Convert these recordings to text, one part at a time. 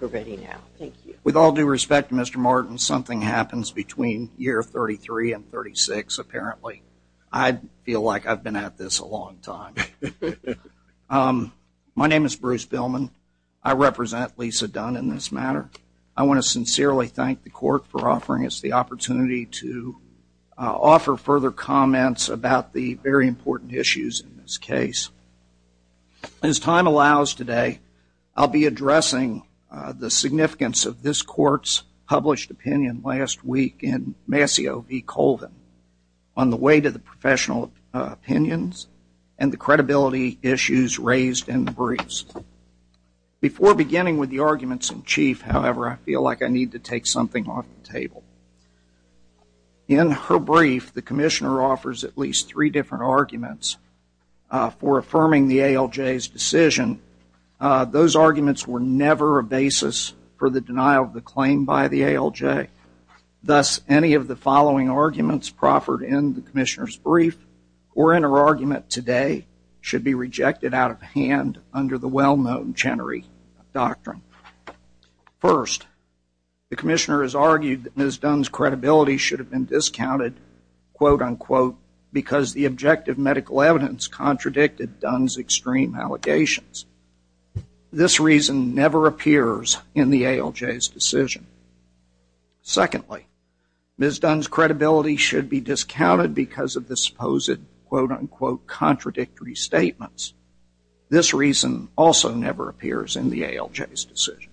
With all due respect, Mr. Martin, something happens between year 33 and 36, apparently. I feel like I've been at this a long time. My name is Bruce Billman. I represent Lisa Dunn in this matter. I want to sincerely thank the Court for offering us the opportunity to offer further comments about the very important issues in this case. As time allows today, I'll be addressing the significance of this Court's published opinion last week in Mascio v. Colvin on the way to the professional opinions and the credibility issues raised in the briefs. Before beginning with the arguments in chief, however, I feel like I need to take something off the table. In her brief, the Commissioner offers at least three different arguments for affirming the ALJ's decision. Those arguments were never a basis for the denial of the claim by the ALJ. Thus, any of the following arguments proffered in the Commissioner's brief or in her argument today should be rejected out of hand under the well-known Chenery Doctrine. First, the Commissioner has argued that Ms. Dunn's credibility should have been discounted, quote-unquote, because the objective medical evidence contradicted Dunn's extreme allegations. This reason never appears in the ALJ's decision. Secondly, Ms. Dunn's credibility should be discounted because of the supposed, quote-unquote, contradictory statements. This reason also never appears in the ALJ's decision.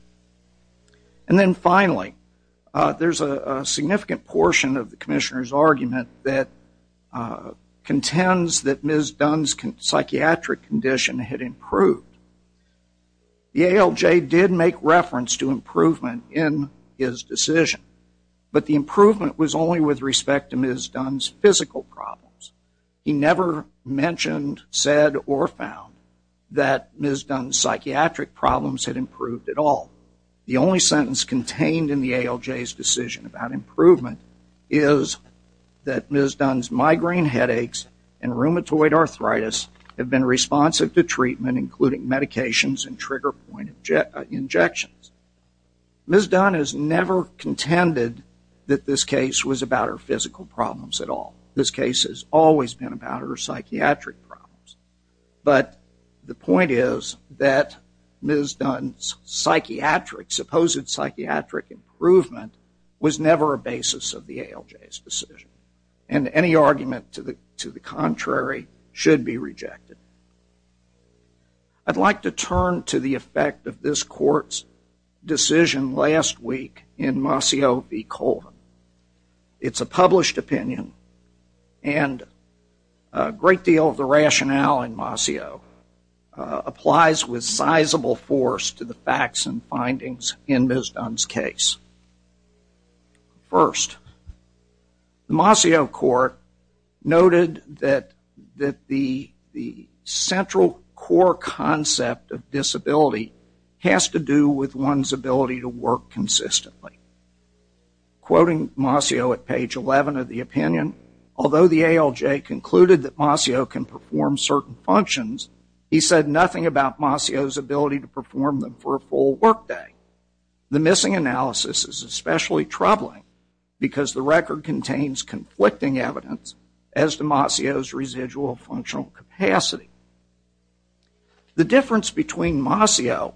And then finally, there's a significant portion of the Commissioner's argument that contends that Ms. Dunn's psychiatric condition had improved. The ALJ did make reference to improvement in his decision, but the improvement was only with respect to Ms. Dunn's physical problems. He never mentioned, said, or found that Ms. Dunn's psychiatric problems had improved at all. The only sentence contained in the ALJ's decision about improvement is that Ms. Dunn's migraine headaches and rheumatoid arthritis have been responsive to treatment, including medications and trigger-point injections. Ms. Dunn has never contended that this case was about her physical problems at all. This case has always been about her psychiatric problems. But the point is that Ms. Dunn's supposed psychiatric improvement was never a basis of the ALJ's decision, and any argument to the contrary should be rejected. I'd like to turn to the effect of this Court's decision last week in Mossio v. Colvin. It's a published opinion, and a great deal of the rationale in Mossio applies with sizable force to the facts and findings in Ms. Dunn's case. First, the Mossio Court noted that the central core concept of disability has to do with one's ability to work consistently. Quoting Mossio at page 11 of the opinion, although the ALJ concluded that Mossio can perform certain functions, he said nothing about Mossio's ability to perform them for a full workday. The missing analysis is especially troubling because the record contains conflicting evidence as to Mossio's residual functional capacity. The difference between Mossio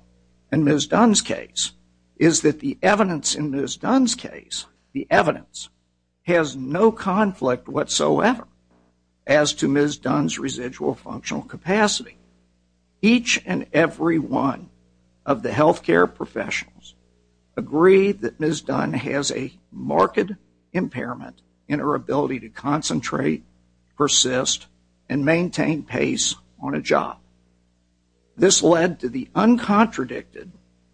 and Ms. Dunn's case is that the evidence in Ms. Dunn's case, the evidence, has no conflict whatsoever as to Ms. Dunn's residual functional capacity. Each and every one of the health care professionals agree that Ms. Dunn has a marked impairment in her ability to concentrate, persist, and maintain pace on a job. This led to the uncontradicted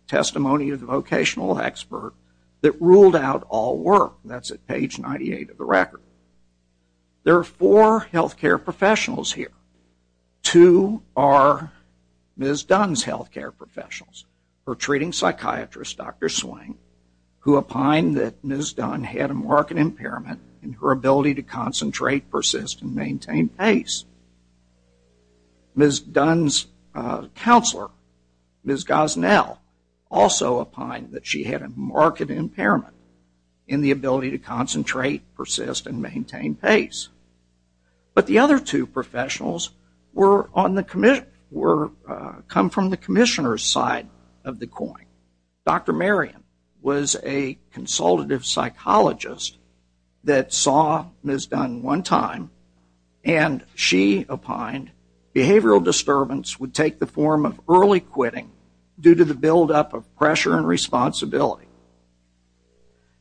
testimony of the vocational expert that ruled out all work. That's at page 98 of the record. There are four health care professionals here. Two are Ms. Dunn's health care professionals, her treating psychiatrist, Dr. Swing, who opined that Ms. Dunn had a marked impairment in her ability to concentrate, persist, and maintain pace. Ms. Dunn's counselor, Ms. Gosnell, also opined that she had a marked impairment in the ability to concentrate, persist, and maintain pace. But the other two professionals come from the commissioner's side of the coin. Dr. Marion was a consultative psychologist that saw Ms. Dunn one time and she opined behavioral disturbance would take the form of early quitting due to the buildup of pressure and responsibility.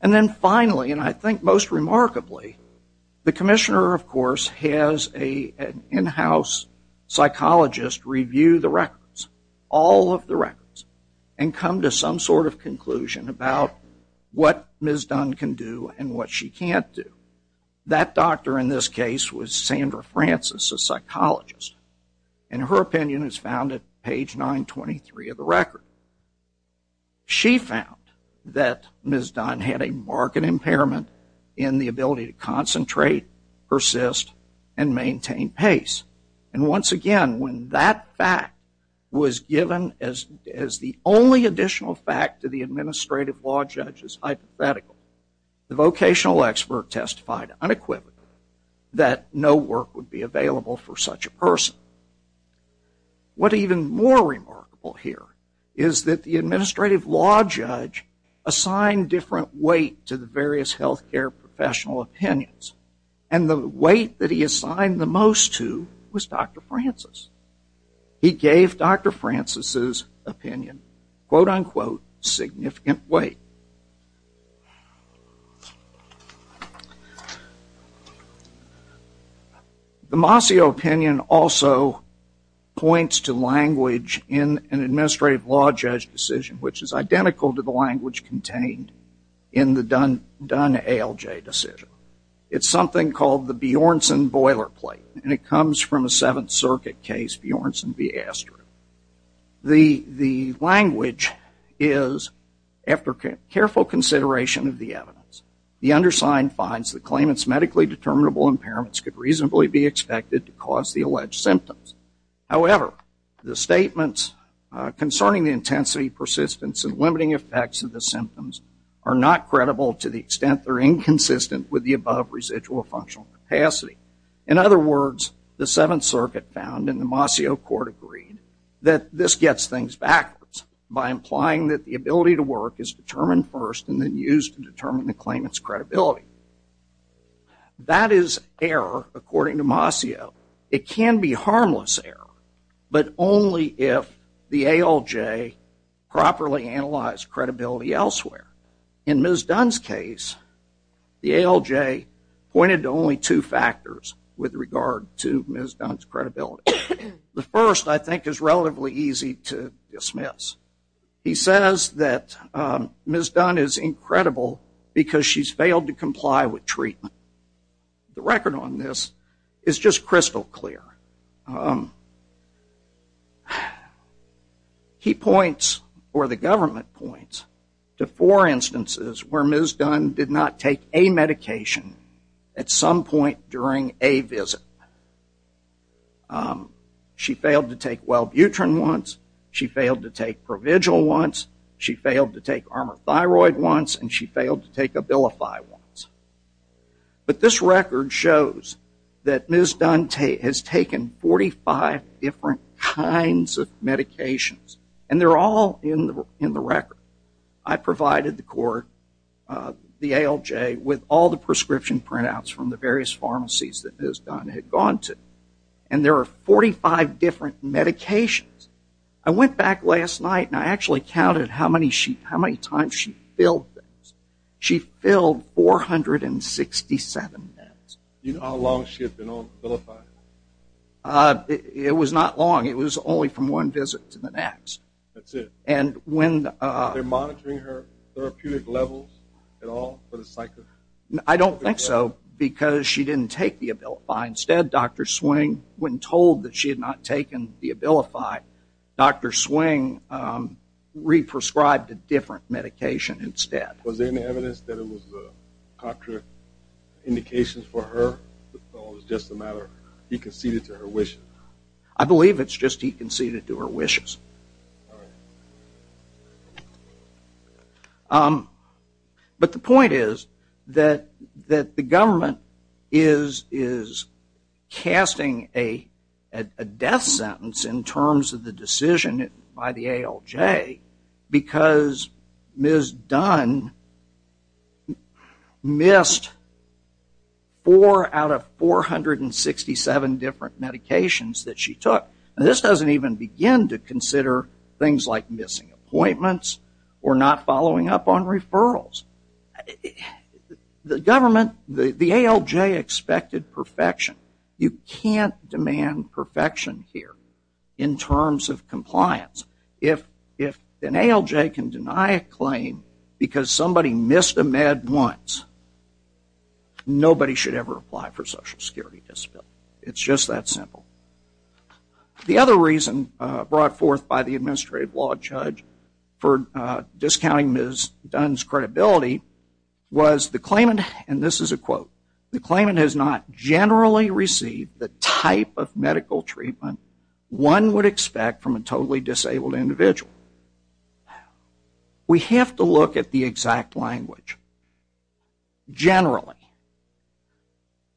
And then finally, and I think most remarkably, the commissioner, of course, has an in-house psychologist review the records, all of the records, and come to some sort of conclusion about what Ms. Dunn can do and what she can't do. That doctor in this case was Sandra Francis, a psychologist, and her opinion is found at page 923 of the record. She found that Ms. Dunn had a marked impairment in the ability to concentrate, persist, and maintain pace. And once again, when that fact was given as the only additional fact to the administrative law judge's hypothetical, the vocational expert testified unequivocally that no work would be available for such a person. What's even more remarkable here is that the administrative law judge assigned different weight to the various health care professional opinions, and the weight that he assigned the most to was Dr. Francis. He gave Dr. Francis' opinion, quote-unquote, significant weight. The Mossio opinion also points to language in an administrative law judge decision, which is identical to the language contained in the Dunn ALJ decision. It's something called the Bjornsson boilerplate, and it comes from a Seventh Circuit case, Bjornsson v. Astrid. The language is, after careful consideration of the evidence, the undersigned finds the claimant's medically determinable impairments could reasonably be expected to cause the alleged symptoms. However, the statements concerning the intensity, persistence, and limiting effects of the symptoms are not credible to the extent they're inconsistent with the above residual functional capacity. In other words, the Seventh Circuit found, and the Mossio court agreed, that this gets things backwards by implying that the ability to work is determined first and then used to determine the claimant's credibility. That is error, according to Mossio. It can be harmless error, but only if the ALJ properly analyzed credibility elsewhere. In Ms. Dunn's case, the ALJ pointed to only two factors with regard to Ms. Dunn's credibility. The first, I think, is relatively easy to dismiss. He says that Ms. Dunn is incredible because she's failed to comply with treatment. The record on this is just crystal clear. He points, or the government points, to four instances where Ms. Dunn did not take a medication at some point during a visit. She failed to take Welbutrin once, she failed to take Provigil once, she failed to take Armorthyroid once, and she failed to take Abilify once. But this record shows that Ms. Dunn has taken 45 different kinds of medications, and they're all in the record. I provided the court, the ALJ, with all the prescription printouts from the various pharmacies that Ms. Dunn had gone to, and there are 45 different medications. I went back last night and I actually counted how many times she filled those. You know how long she had been on Abilify? It was not long. It was only from one visit to the next. That's it. Were they monitoring her therapeutic levels at all for the cycle? I don't think so because she didn't take the Abilify. Instead, Dr. Swing, when told that she had not taken the Abilify, Dr. Swing re-prescribed a different medication instead. Was there any evidence that it was contraindications for her or was it just a matter of he conceded to her wishes? I believe it's just he conceded to her wishes. All right. But the point is that the government is casting a death sentence in terms of the decision by the ALJ because Ms. Dunn missed four out of 467 different medications that she took. And this doesn't even begin to consider things like missing appointments or not following up on referrals. The ALJ expected perfection. You can't demand perfection here in terms of compliance. If an ALJ can deny a claim because somebody missed a med once, nobody should ever apply for Social Security Disability. It's just that simple. The other reason brought forth by the administrative law judge for discounting Ms. Dunn's credibility was the claimant, and this is a quote, the claimant has not generally received the type of medical treatment one would expect from a totally disabled individual. We have to look at the exact language. Generally.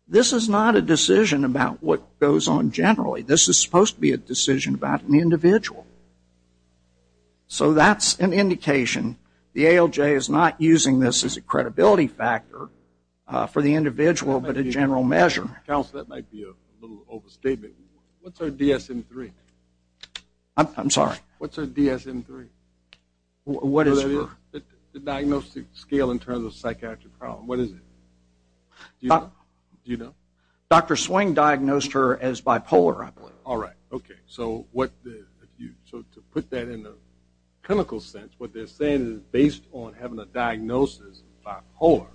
This is not a decision about what goes on generally. This is supposed to be a decision about an individual. So that's an indication the ALJ is not using this as a credibility factor for the individual but a general measure. Counsel, that might be a little overstatement. What's her DSM-3? I'm sorry. What's her DSM-3? What is her? The diagnostic scale in terms of psychiatric problem. What is it? Do you know? Dr. Swing diagnosed her as bipolar, I believe. All right. Okay. So to put that in a clinical sense, what they're saying is based on having a diagnosis of bipolar,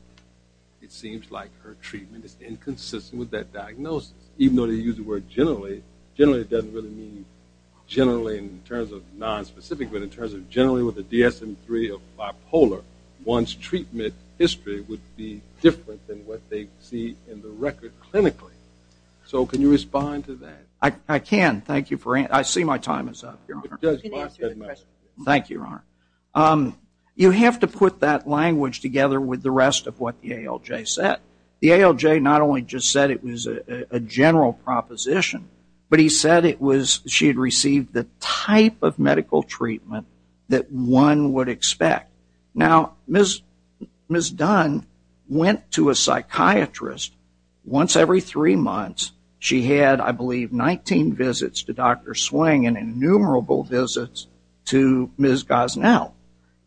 it seems like her treatment is inconsistent with that diagnosis, even though they use the word generally. Generally doesn't really mean generally in terms of nonspecific, but in terms of generally with a DSM-3 of bipolar, one's treatment history would be different than what they see in the record clinically. So can you respond to that? I can. Thank you. I see my time is up, Your Honor. Thank you, Your Honor. You have to put that language together with the rest of what the ALJ said. The ALJ not only just said it was a general proposition, but he said it was she had received the type of medical treatment that one would expect. Now, Ms. Dunn went to a psychiatrist once every three months. She had, I believe, 19 visits to Dr. Swing and innumerable visits to Ms. Gosnell.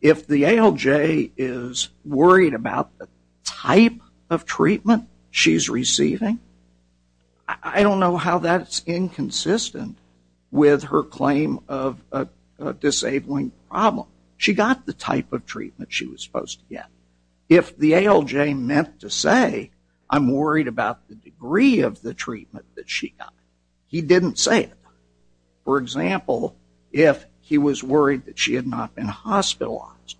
If the ALJ is worried about the type of treatment she's receiving, I don't know how that's inconsistent with her claim of a disabling problem. She got the type of treatment she was supposed to get. If the ALJ meant to say, I'm worried about the degree of the treatment that she got, he didn't say it. For example, if he was worried that she had not been hospitalized.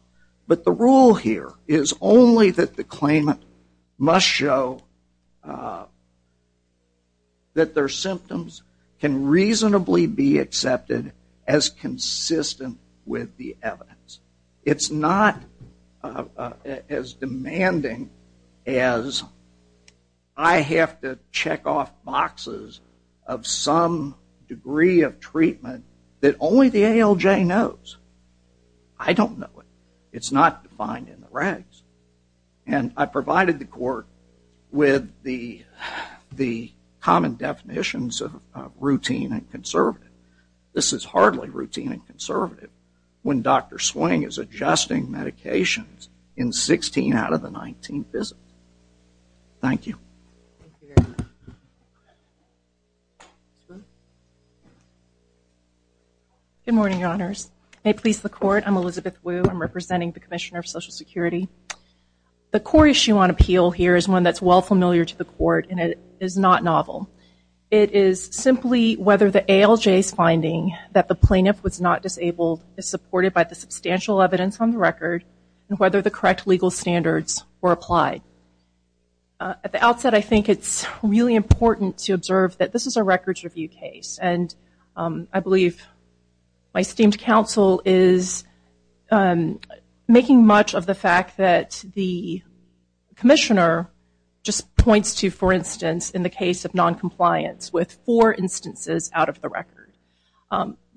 But the rule here is only that the claimant must show that their symptoms can reasonably be accepted as consistent with the evidence. It's not as demanding as I have to check off boxes of some degree of treatment that only the ALJ knows. I don't know it. It's not defined in the regs. And I provided the court with the common definitions of routine and conservative. This is hardly routine and conservative when Dr. Swing is adjusting medications in 16 out of the 19 visits. Thank you. Good morning, Your Honors. May it please the court, I'm Elizabeth Wu. I'm representing the Commissioner of Social Security. The core issue on appeal here is one that's well familiar to the court, and it is not novel. It is simply whether the ALJ's finding that the plaintiff was not disabled is supported by the substantial evidence on the record, and whether the correct legal standards were applied. At the outset, I think it's really important to observe that this is a records review case. And I believe my esteemed counsel is making much of the fact that the four instances out of the record.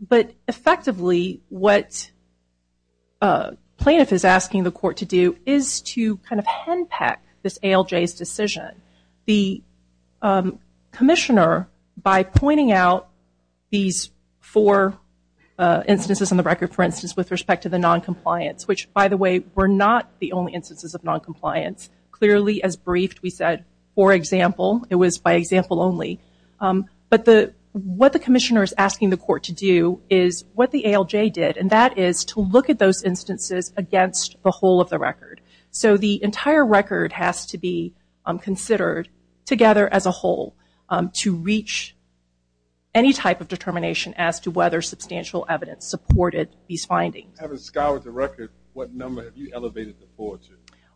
But effectively, what plaintiff is asking the court to do is to kind of hand-pack this ALJ's decision. The commissioner, by pointing out these four instances on the record, for instance, with respect to the noncompliance, which by the way were not the only instances of noncompliance, clearly as briefed we said, for example, it was by example only. But what the commissioner is asking the court to do is what the ALJ did, and that is to look at those instances against the whole of the record. So the entire record has to be considered together as a whole to reach any type of determination as to whether substantial evidence supported these findings. Having scoured the record, what number have you elevated the four to?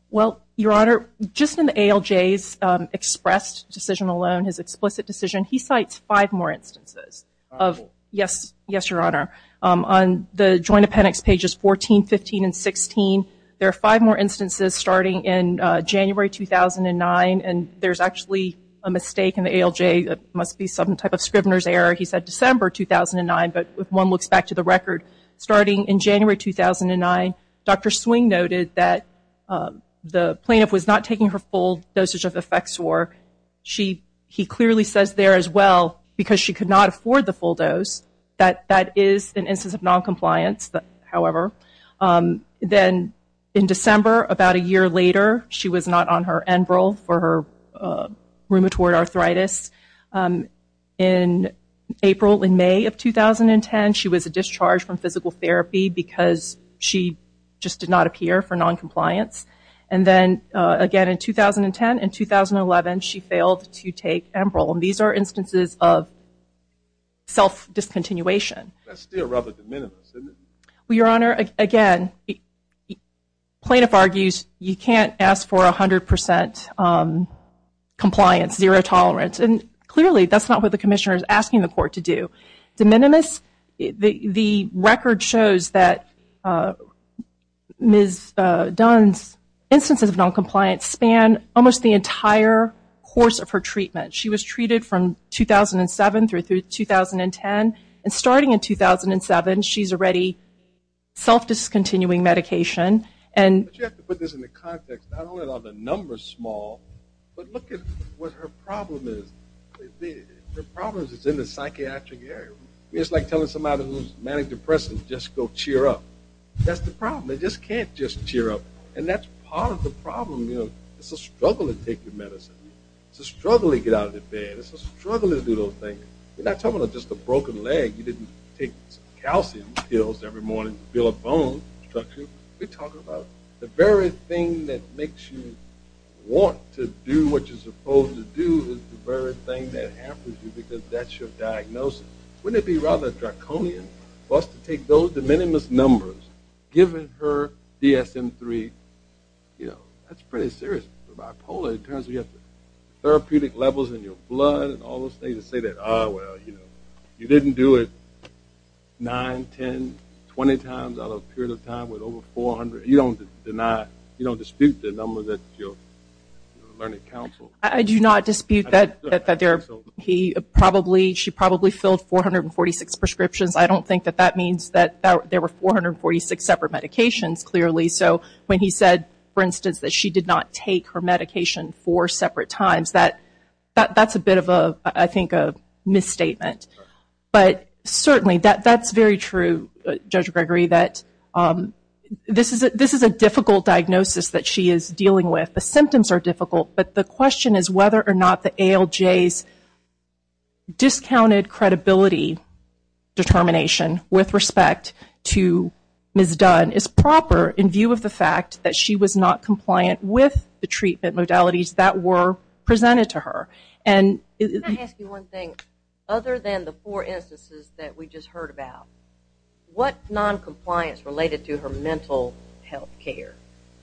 Well, Your Honor, just in the ALJ's expressed decision alone, his explicit decision, he cites five more instances. Yes, Your Honor. On the Joint Appendix pages 14, 15, and 16, there are five more instances starting in January 2009. And there's actually a mistake in the ALJ. It must be some type of Scrivener's error. He said December 2009. But if one looks back to the record starting in January 2009, Dr. Swing noted that the plaintiff was not taking her full dosage of Efexor. He clearly says there as well, because she could not afford the full dose, that that is an instance of noncompliance, however. Then in December, about a year later, she was not on her Enbrel for her rheumatoid arthritis. In April and May of 2010, she was discharged from physical therapy because she just did not appear for noncompliance. And then again in 2010 and 2011, she failed to take Enbrel. And these are instances of self-discontinuation. That's still rather de minimis, isn't it? Well, Your Honor, again, the plaintiff argues you can't ask for 100% compliance, zero tolerance. And clearly, that's not what the commissioner is asking the court to do. De minimis, the record shows that Ms. Dunn's instances of noncompliance span almost the entire course of her treatment. She was treated from 2007 through 2010. And starting in 2007, she's already self-discontinuing medication. But you have to put this into context. Not only are the numbers small, but look at what her problem is. Her problem is in the psychiatric area. It's like telling somebody who's manic-depressive, just go cheer up. That's the problem. They just can't just cheer up. And that's part of the problem. It's a struggle to take your medicine. It's a struggle to get out of bed. It's a struggle to do those things. We're not talking about just a broken leg. You didn't take calcium pills every morning to build a bone structure. We're talking about the very thing that makes you want to do what you're supposed to do versus the very thing that hampers you because that's your diagnosis. Wouldn't it be rather draconian for us to take those de minimis numbers, given her DSM-III? You know, that's pretty serious for bipolar in terms of you have therapeutic levels in your blood and all those things, to say that, ah, well, you know, you didn't do it 9, 10, 20 times out of a period of time with over 400. You don't dispute the numbers at your learning council. I do not dispute that she probably filled 446 prescriptions. I don't think that that means that there were 446 separate medications, clearly. So when he said, for instance, that she did not take her medication four separate times, that's a bit of a, I think, a misstatement. But certainly that's very true, Judge Gregory, that this is a difficult diagnosis that she is dealing with. The symptoms are difficult. But the question is whether or not the ALJ's discounted credibility determination with respect to Ms. Dunn is proper in view of the fact that she was not compliant with the treatment modalities that were presented to her. Can I ask you one thing? Other than the four instances that we just heard about, what noncompliance related to her mental health care?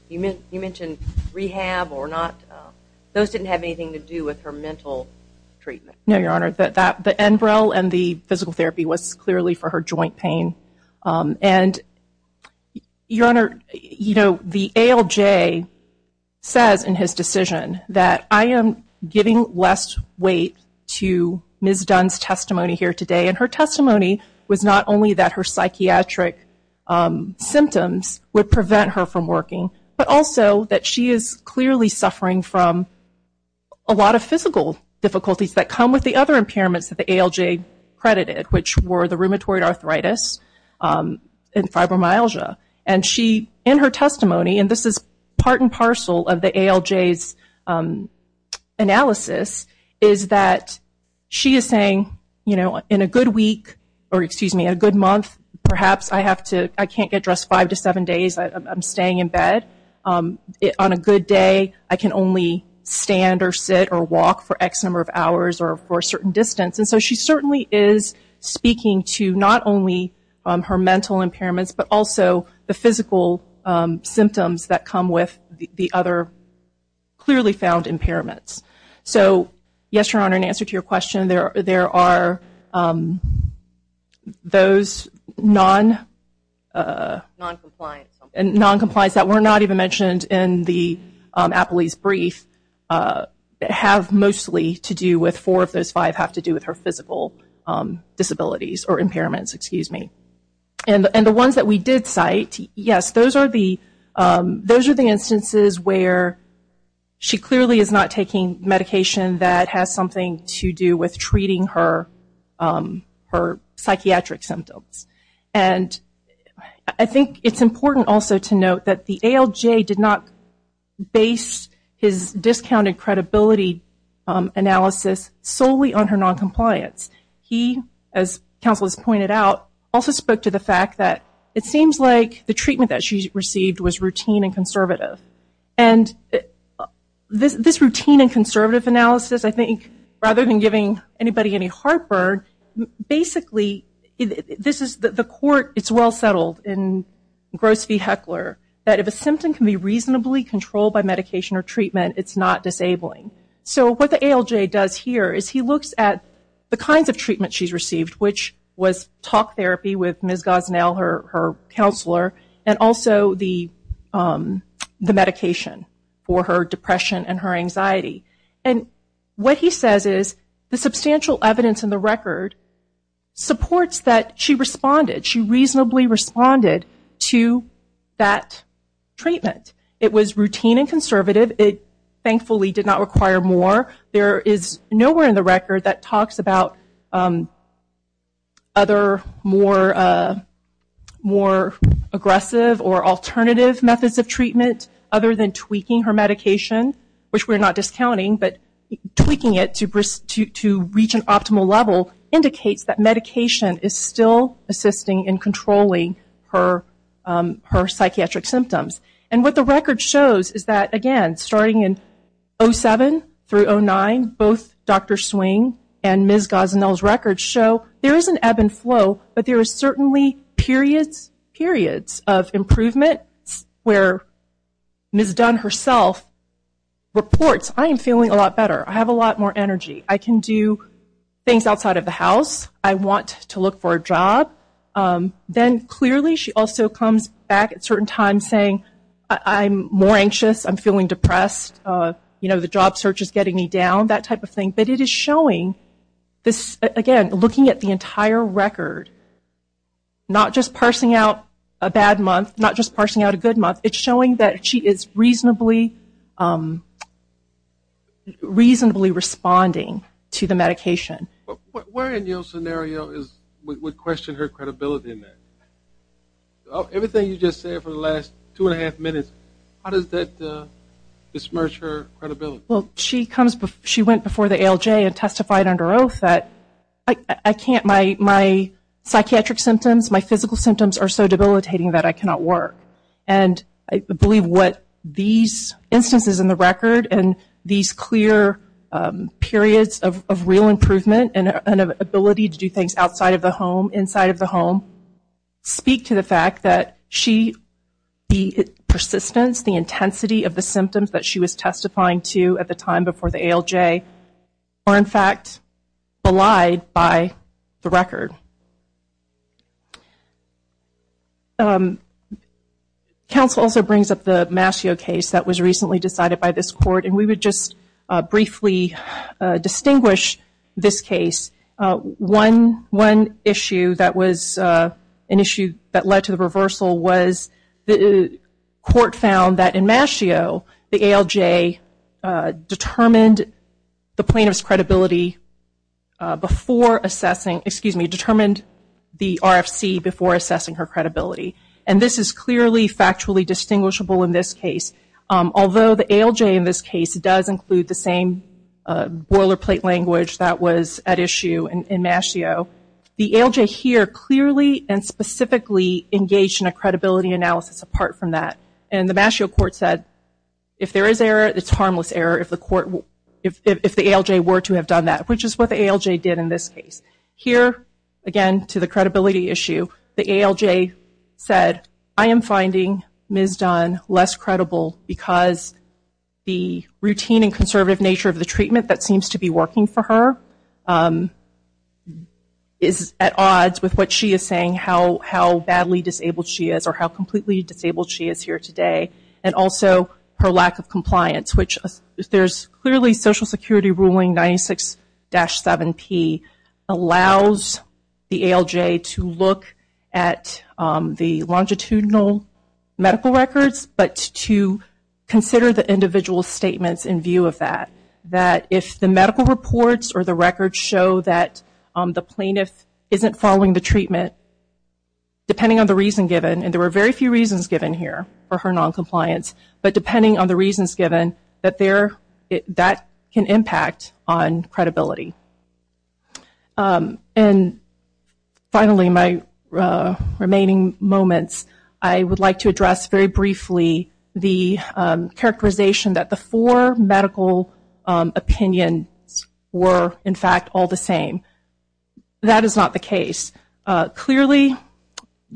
You mentioned rehab or not. Those didn't have anything to do with her mental treatment. No, Your Honor. The Enbrel and the physical therapy was clearly for her joint pain. And, Your Honor, you know, the ALJ says in his decision that I am giving less weight to Ms. Dunn's testimony here today. And her testimony was not only that her psychiatric symptoms would prevent her from working, but also that she is clearly suffering from a lot of physical difficulties that come with the other impairments that the ALJ credited, which were the rheumatoid arthritis and fibromyalgia. And she, in her testimony, and this is part and parcel of the ALJ's analysis, is that she is saying, you know, in a good week, or excuse me, in a good month, perhaps I can't get dressed five to seven days. I'm staying in bed. On a good day, I can only stand or sit or walk for X number of hours or for a certain distance. And so she certainly is speaking to not only her mental impairments, but also the physical symptoms that come with the other clearly found impairments. So, yes, Your Honor, in answer to your question, there are those noncompliance that were not even mentioned in the Apley's brief have mostly to do with four of those five have to do with her physical disabilities or impairments, excuse me. And the ones that we did cite, yes, those are the instances where she clearly is not taking medication that has something to do with treating her psychiatric symptoms. And I think it's important also to note that the ALJ did not base his discounted credibility analysis solely on her noncompliance. He, as counsel has pointed out, also spoke to the fact that it seems like the treatment that she received was routine and conservative. And this routine and conservative analysis, I think, rather than giving anybody any heartburn, basically this is the court, it's well settled in Gross v. Heckler that if a symptom can be reasonably controlled by medication or treatment, it's not disabling. So what the ALJ does here is he looks at the kinds of treatment she's received, which was talk therapy with Ms. Gosnell, her counselor, and also the medication for her depression and her anxiety. And what he says is the substantial evidence in the record supports that she responded. She reasonably responded to that treatment. It was routine and conservative. It thankfully did not require more. There is nowhere in the record that talks about other more aggressive or alternative methods of treatment other than tweaking her medication, which we're not discounting, but tweaking it to reach an optimal level indicates that medication is still assisting in controlling her psychiatric symptoms. And what the record shows is that, again, starting in 2007 through 2009, both Dr. Swing and Ms. Gosnell's records show there is an ebb and flow, but there is certainly periods of improvement where Ms. Dunn herself reports, I am feeling a lot better. I have a lot more energy. I can do things outside of the house. I want to look for a job. Then clearly she also comes back at certain times saying, I'm more anxious. I'm feeling depressed. The job search is getting me down, that type of thing. But it is showing, again, looking at the entire record, not just parsing out a bad month, not just parsing out a good month. It's showing that she is reasonably responding to the medication. Where in your scenario would question her credibility in that? Everything you just said for the last two and a half minutes, how does that dismerse her credibility? She went before the ALJ and testified under oath that my psychiatric symptoms, my physical symptoms are so debilitating that I cannot work. I believe what these instances in the record and these clear periods of real improvement and an ability to do things outside of the home, inside of the home, speak to the fact that the persistence, the intensity of the symptoms that she was testifying to at the time before the ALJ are, in fact, belied by the record. Counsel also brings up the Mascio case that was recently decided by this court, and we would just briefly distinguish this case. One issue that was an issue that led to the reversal was the court found that in Mascio, the ALJ determined the plaintiff's credibility before assessing, excuse me, determined the RFC before assessing her credibility. And this is clearly factually distinguishable in this case. Although the ALJ in this case does include the same boilerplate language that was at issue in Mascio, the ALJ here clearly and specifically engaged in a credibility analysis apart from that. And the Mascio court said if there is error, it's harmless error if the ALJ were to have done that, which is what the ALJ did in this case. Here, again, to the credibility issue, the ALJ said, I am finding Ms. Dunn less credible because the routine and conservative nature of the treatment that seems to be working for her is at odds with what she is saying, how badly disabled she is or how completely disabled she is here today, and also her lack of compliance, which there is clearly Social Security ruling 96-7P allows the ALJ to look at the longitudinal medical records but to consider the individual statements in view of that. That if the medical reports or the records show that the plaintiff isn't following the treatment, depending on the reason given, and there were very few reasons given here for her noncompliance, but depending on the reasons given, that can impact on credibility. And finally, my remaining moments, I would like to address very briefly the characterization that the four medical opinions were, in fact, all the same. That is not the case. Clearly,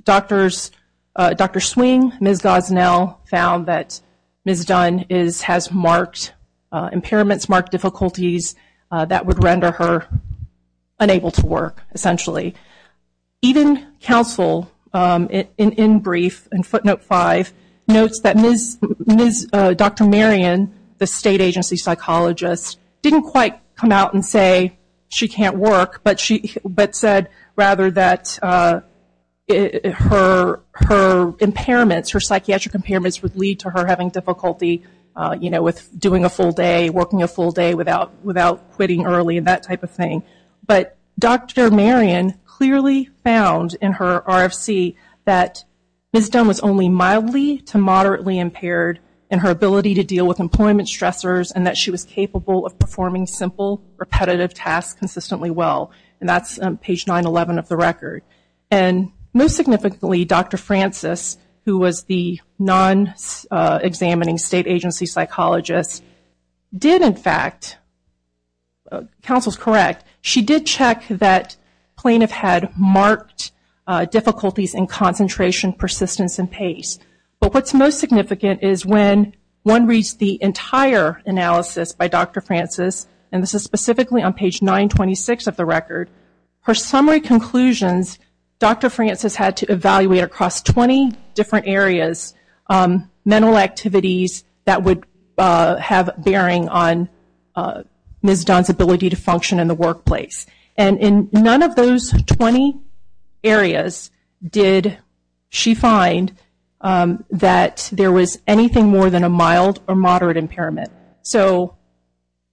Dr. Swing, Ms. Gosnell, found that Ms. Dunn has marked impairments, marked difficulties that would render her unable to work, essentially. Even counsel, in brief, in footnote five, notes that Dr. Marion, the state agency psychologist, didn't quite come out and say she can't work, but said rather that her impairments, her psychiatric impairments would lead to her having difficulty with doing a full day, working a full day without quitting early and that type of thing. But Dr. Marion clearly found in her RFC that Ms. Dunn was only mildly to moderately impaired in her ability to deal with employment stressors and that she was capable of performing simple, repetitive tasks consistently well, and that's page 911 of the record. And most significantly, Dr. Francis, who was the non-examining state agency psychologist, did in fact, counsel's correct, she did check that plaintiff had marked difficulties in concentration, persistence, and pace. But what's most significant is when one reads the entire analysis by Dr. Francis, and this is specifically on page 926 of the record, her summary conclusions, Dr. Francis had to evaluate across 20 different areas, mental activities that would have bearing on Ms. Dunn's ability to function in the workplace. And in none of those 20 areas did she find that there was anything more than a mild or moderate impairment. So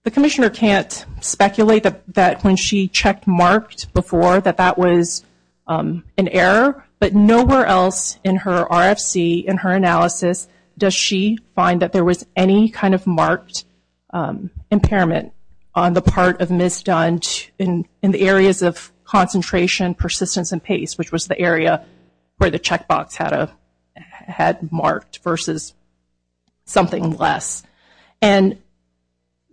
the commissioner can't speculate that when she checked marked before that that was an error, but nowhere else in her RFC, in her analysis, does she find that there was any kind of marked impairment on the part of Ms. Dunn in the areas of concentration, persistence, and pace, which was the area where the checkbox had marked versus something less. And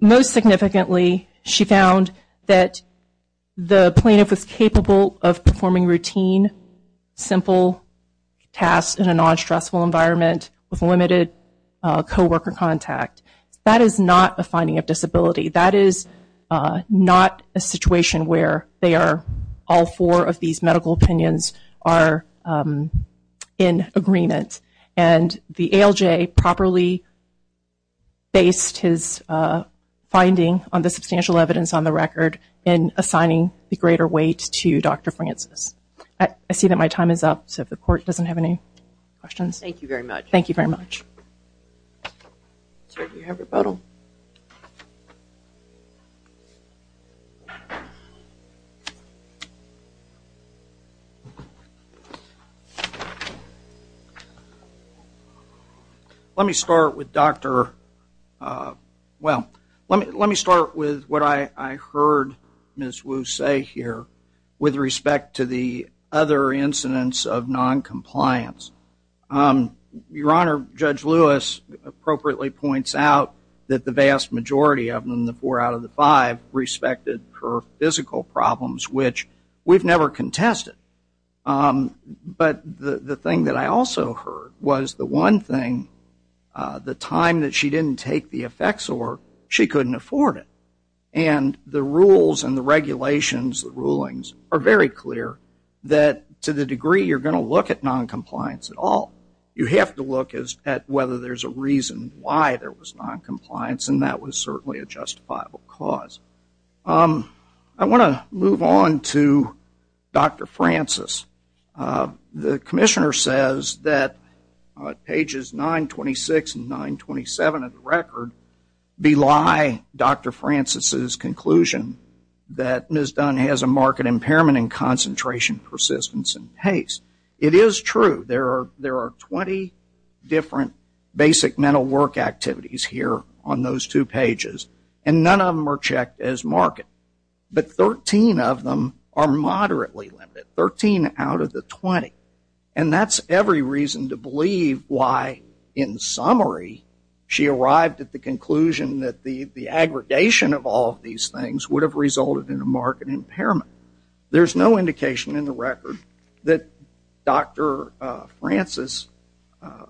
most significantly, she found that the plaintiff was capable of performing routine, simple tasks in a non-stressful environment with limited co-worker contact. That is not a finding of disability. That is not a situation where all four of these medical opinions are in agreement. And the ALJ properly based his finding on the substantial evidence on the record in assigning the greater weight to Dr. Francis. I see that my time is up, so if the court doesn't have any questions. Thank you very much. Let me start with what I heard Ms. Wu say here with respect to the other incidents of noncompliance. Your Honor, Judge Lewis appropriately points out that the vast majority of them, the four out of the five, respected her physical problems, which we've never contested. But the thing that I also heard was the one thing, the time that she didn't take the effects, or she couldn't afford it. And the rules and the regulations, the rulings, are very clear that to the degree you're going to look at noncompliance at all. You have to look at whether there's a reason why there was noncompliance, and that was certainly a justifiable cause. I want to move on to Dr. Francis. The Commissioner says that pages 926 and 927 of the record belie Dr. Francis's conclusion that Ms. Dunn has a marked impairment in concentration, persistence, and pace. It is true. There are 20 different basic mental work activities here on those two pages, and none of them are checked as marked. But 13 of them are moderately limited, 13 out of the 20. And that's every reason to believe why, in summary, she arrived at the conclusion that the aggregation of all of these things would have resulted in a marked impairment. There's no indication in the record that Dr. Francis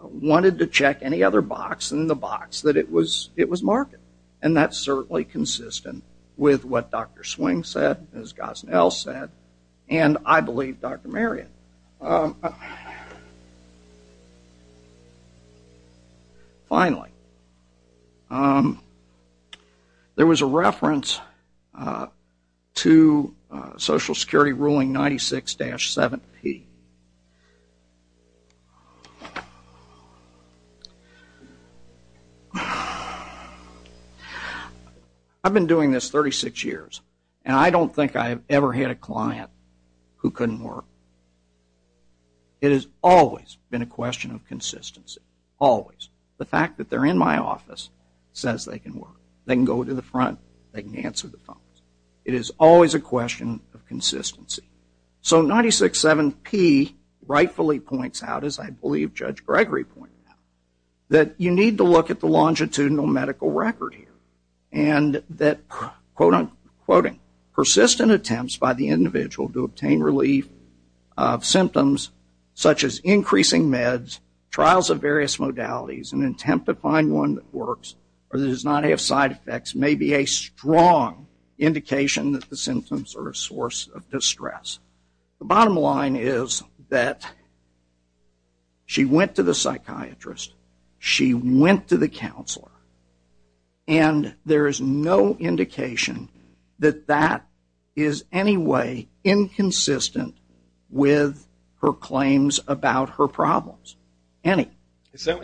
wanted to check any other box than the box that it was marked. And that's certainly consistent with what Dr. Swing said, as Gosnell said, and, I believe, Dr. Marion. And finally, there was a reference to Social Security ruling 96-7P. I've been doing this 36 years, and I don't think I've ever had a client who couldn't work. It has always been a question of consistency, always. The fact that they're in my office says they can work. They can go to the front. They can answer the phones. It is always a question of consistency. So 96-7P rightfully points out, as I believe Judge Gregory pointed out, that you need to look at the longitudinal medical record here, and that, quote-unquote, persistent attempts by the individual to obtain relief of symptoms such as increasing meds, trials of various modalities, and an attempt to find one that works or does not have side effects may be a strong indication that the symptoms are a source of distress. The bottom line is that she went to the psychiatrist. She went to the counselor. And there is no indication that that is any way inconsistent with her claims about her problems, any. I think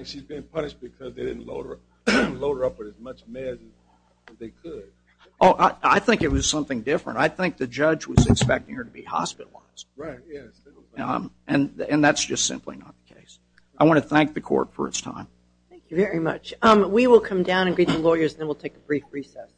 it was something different. I think the judge was expecting her to be hospitalized. And that's just simply not the case. I want to thank the Court for its time. Thank you very much. We will come down and greet the lawyers, and then we'll take a brief recess.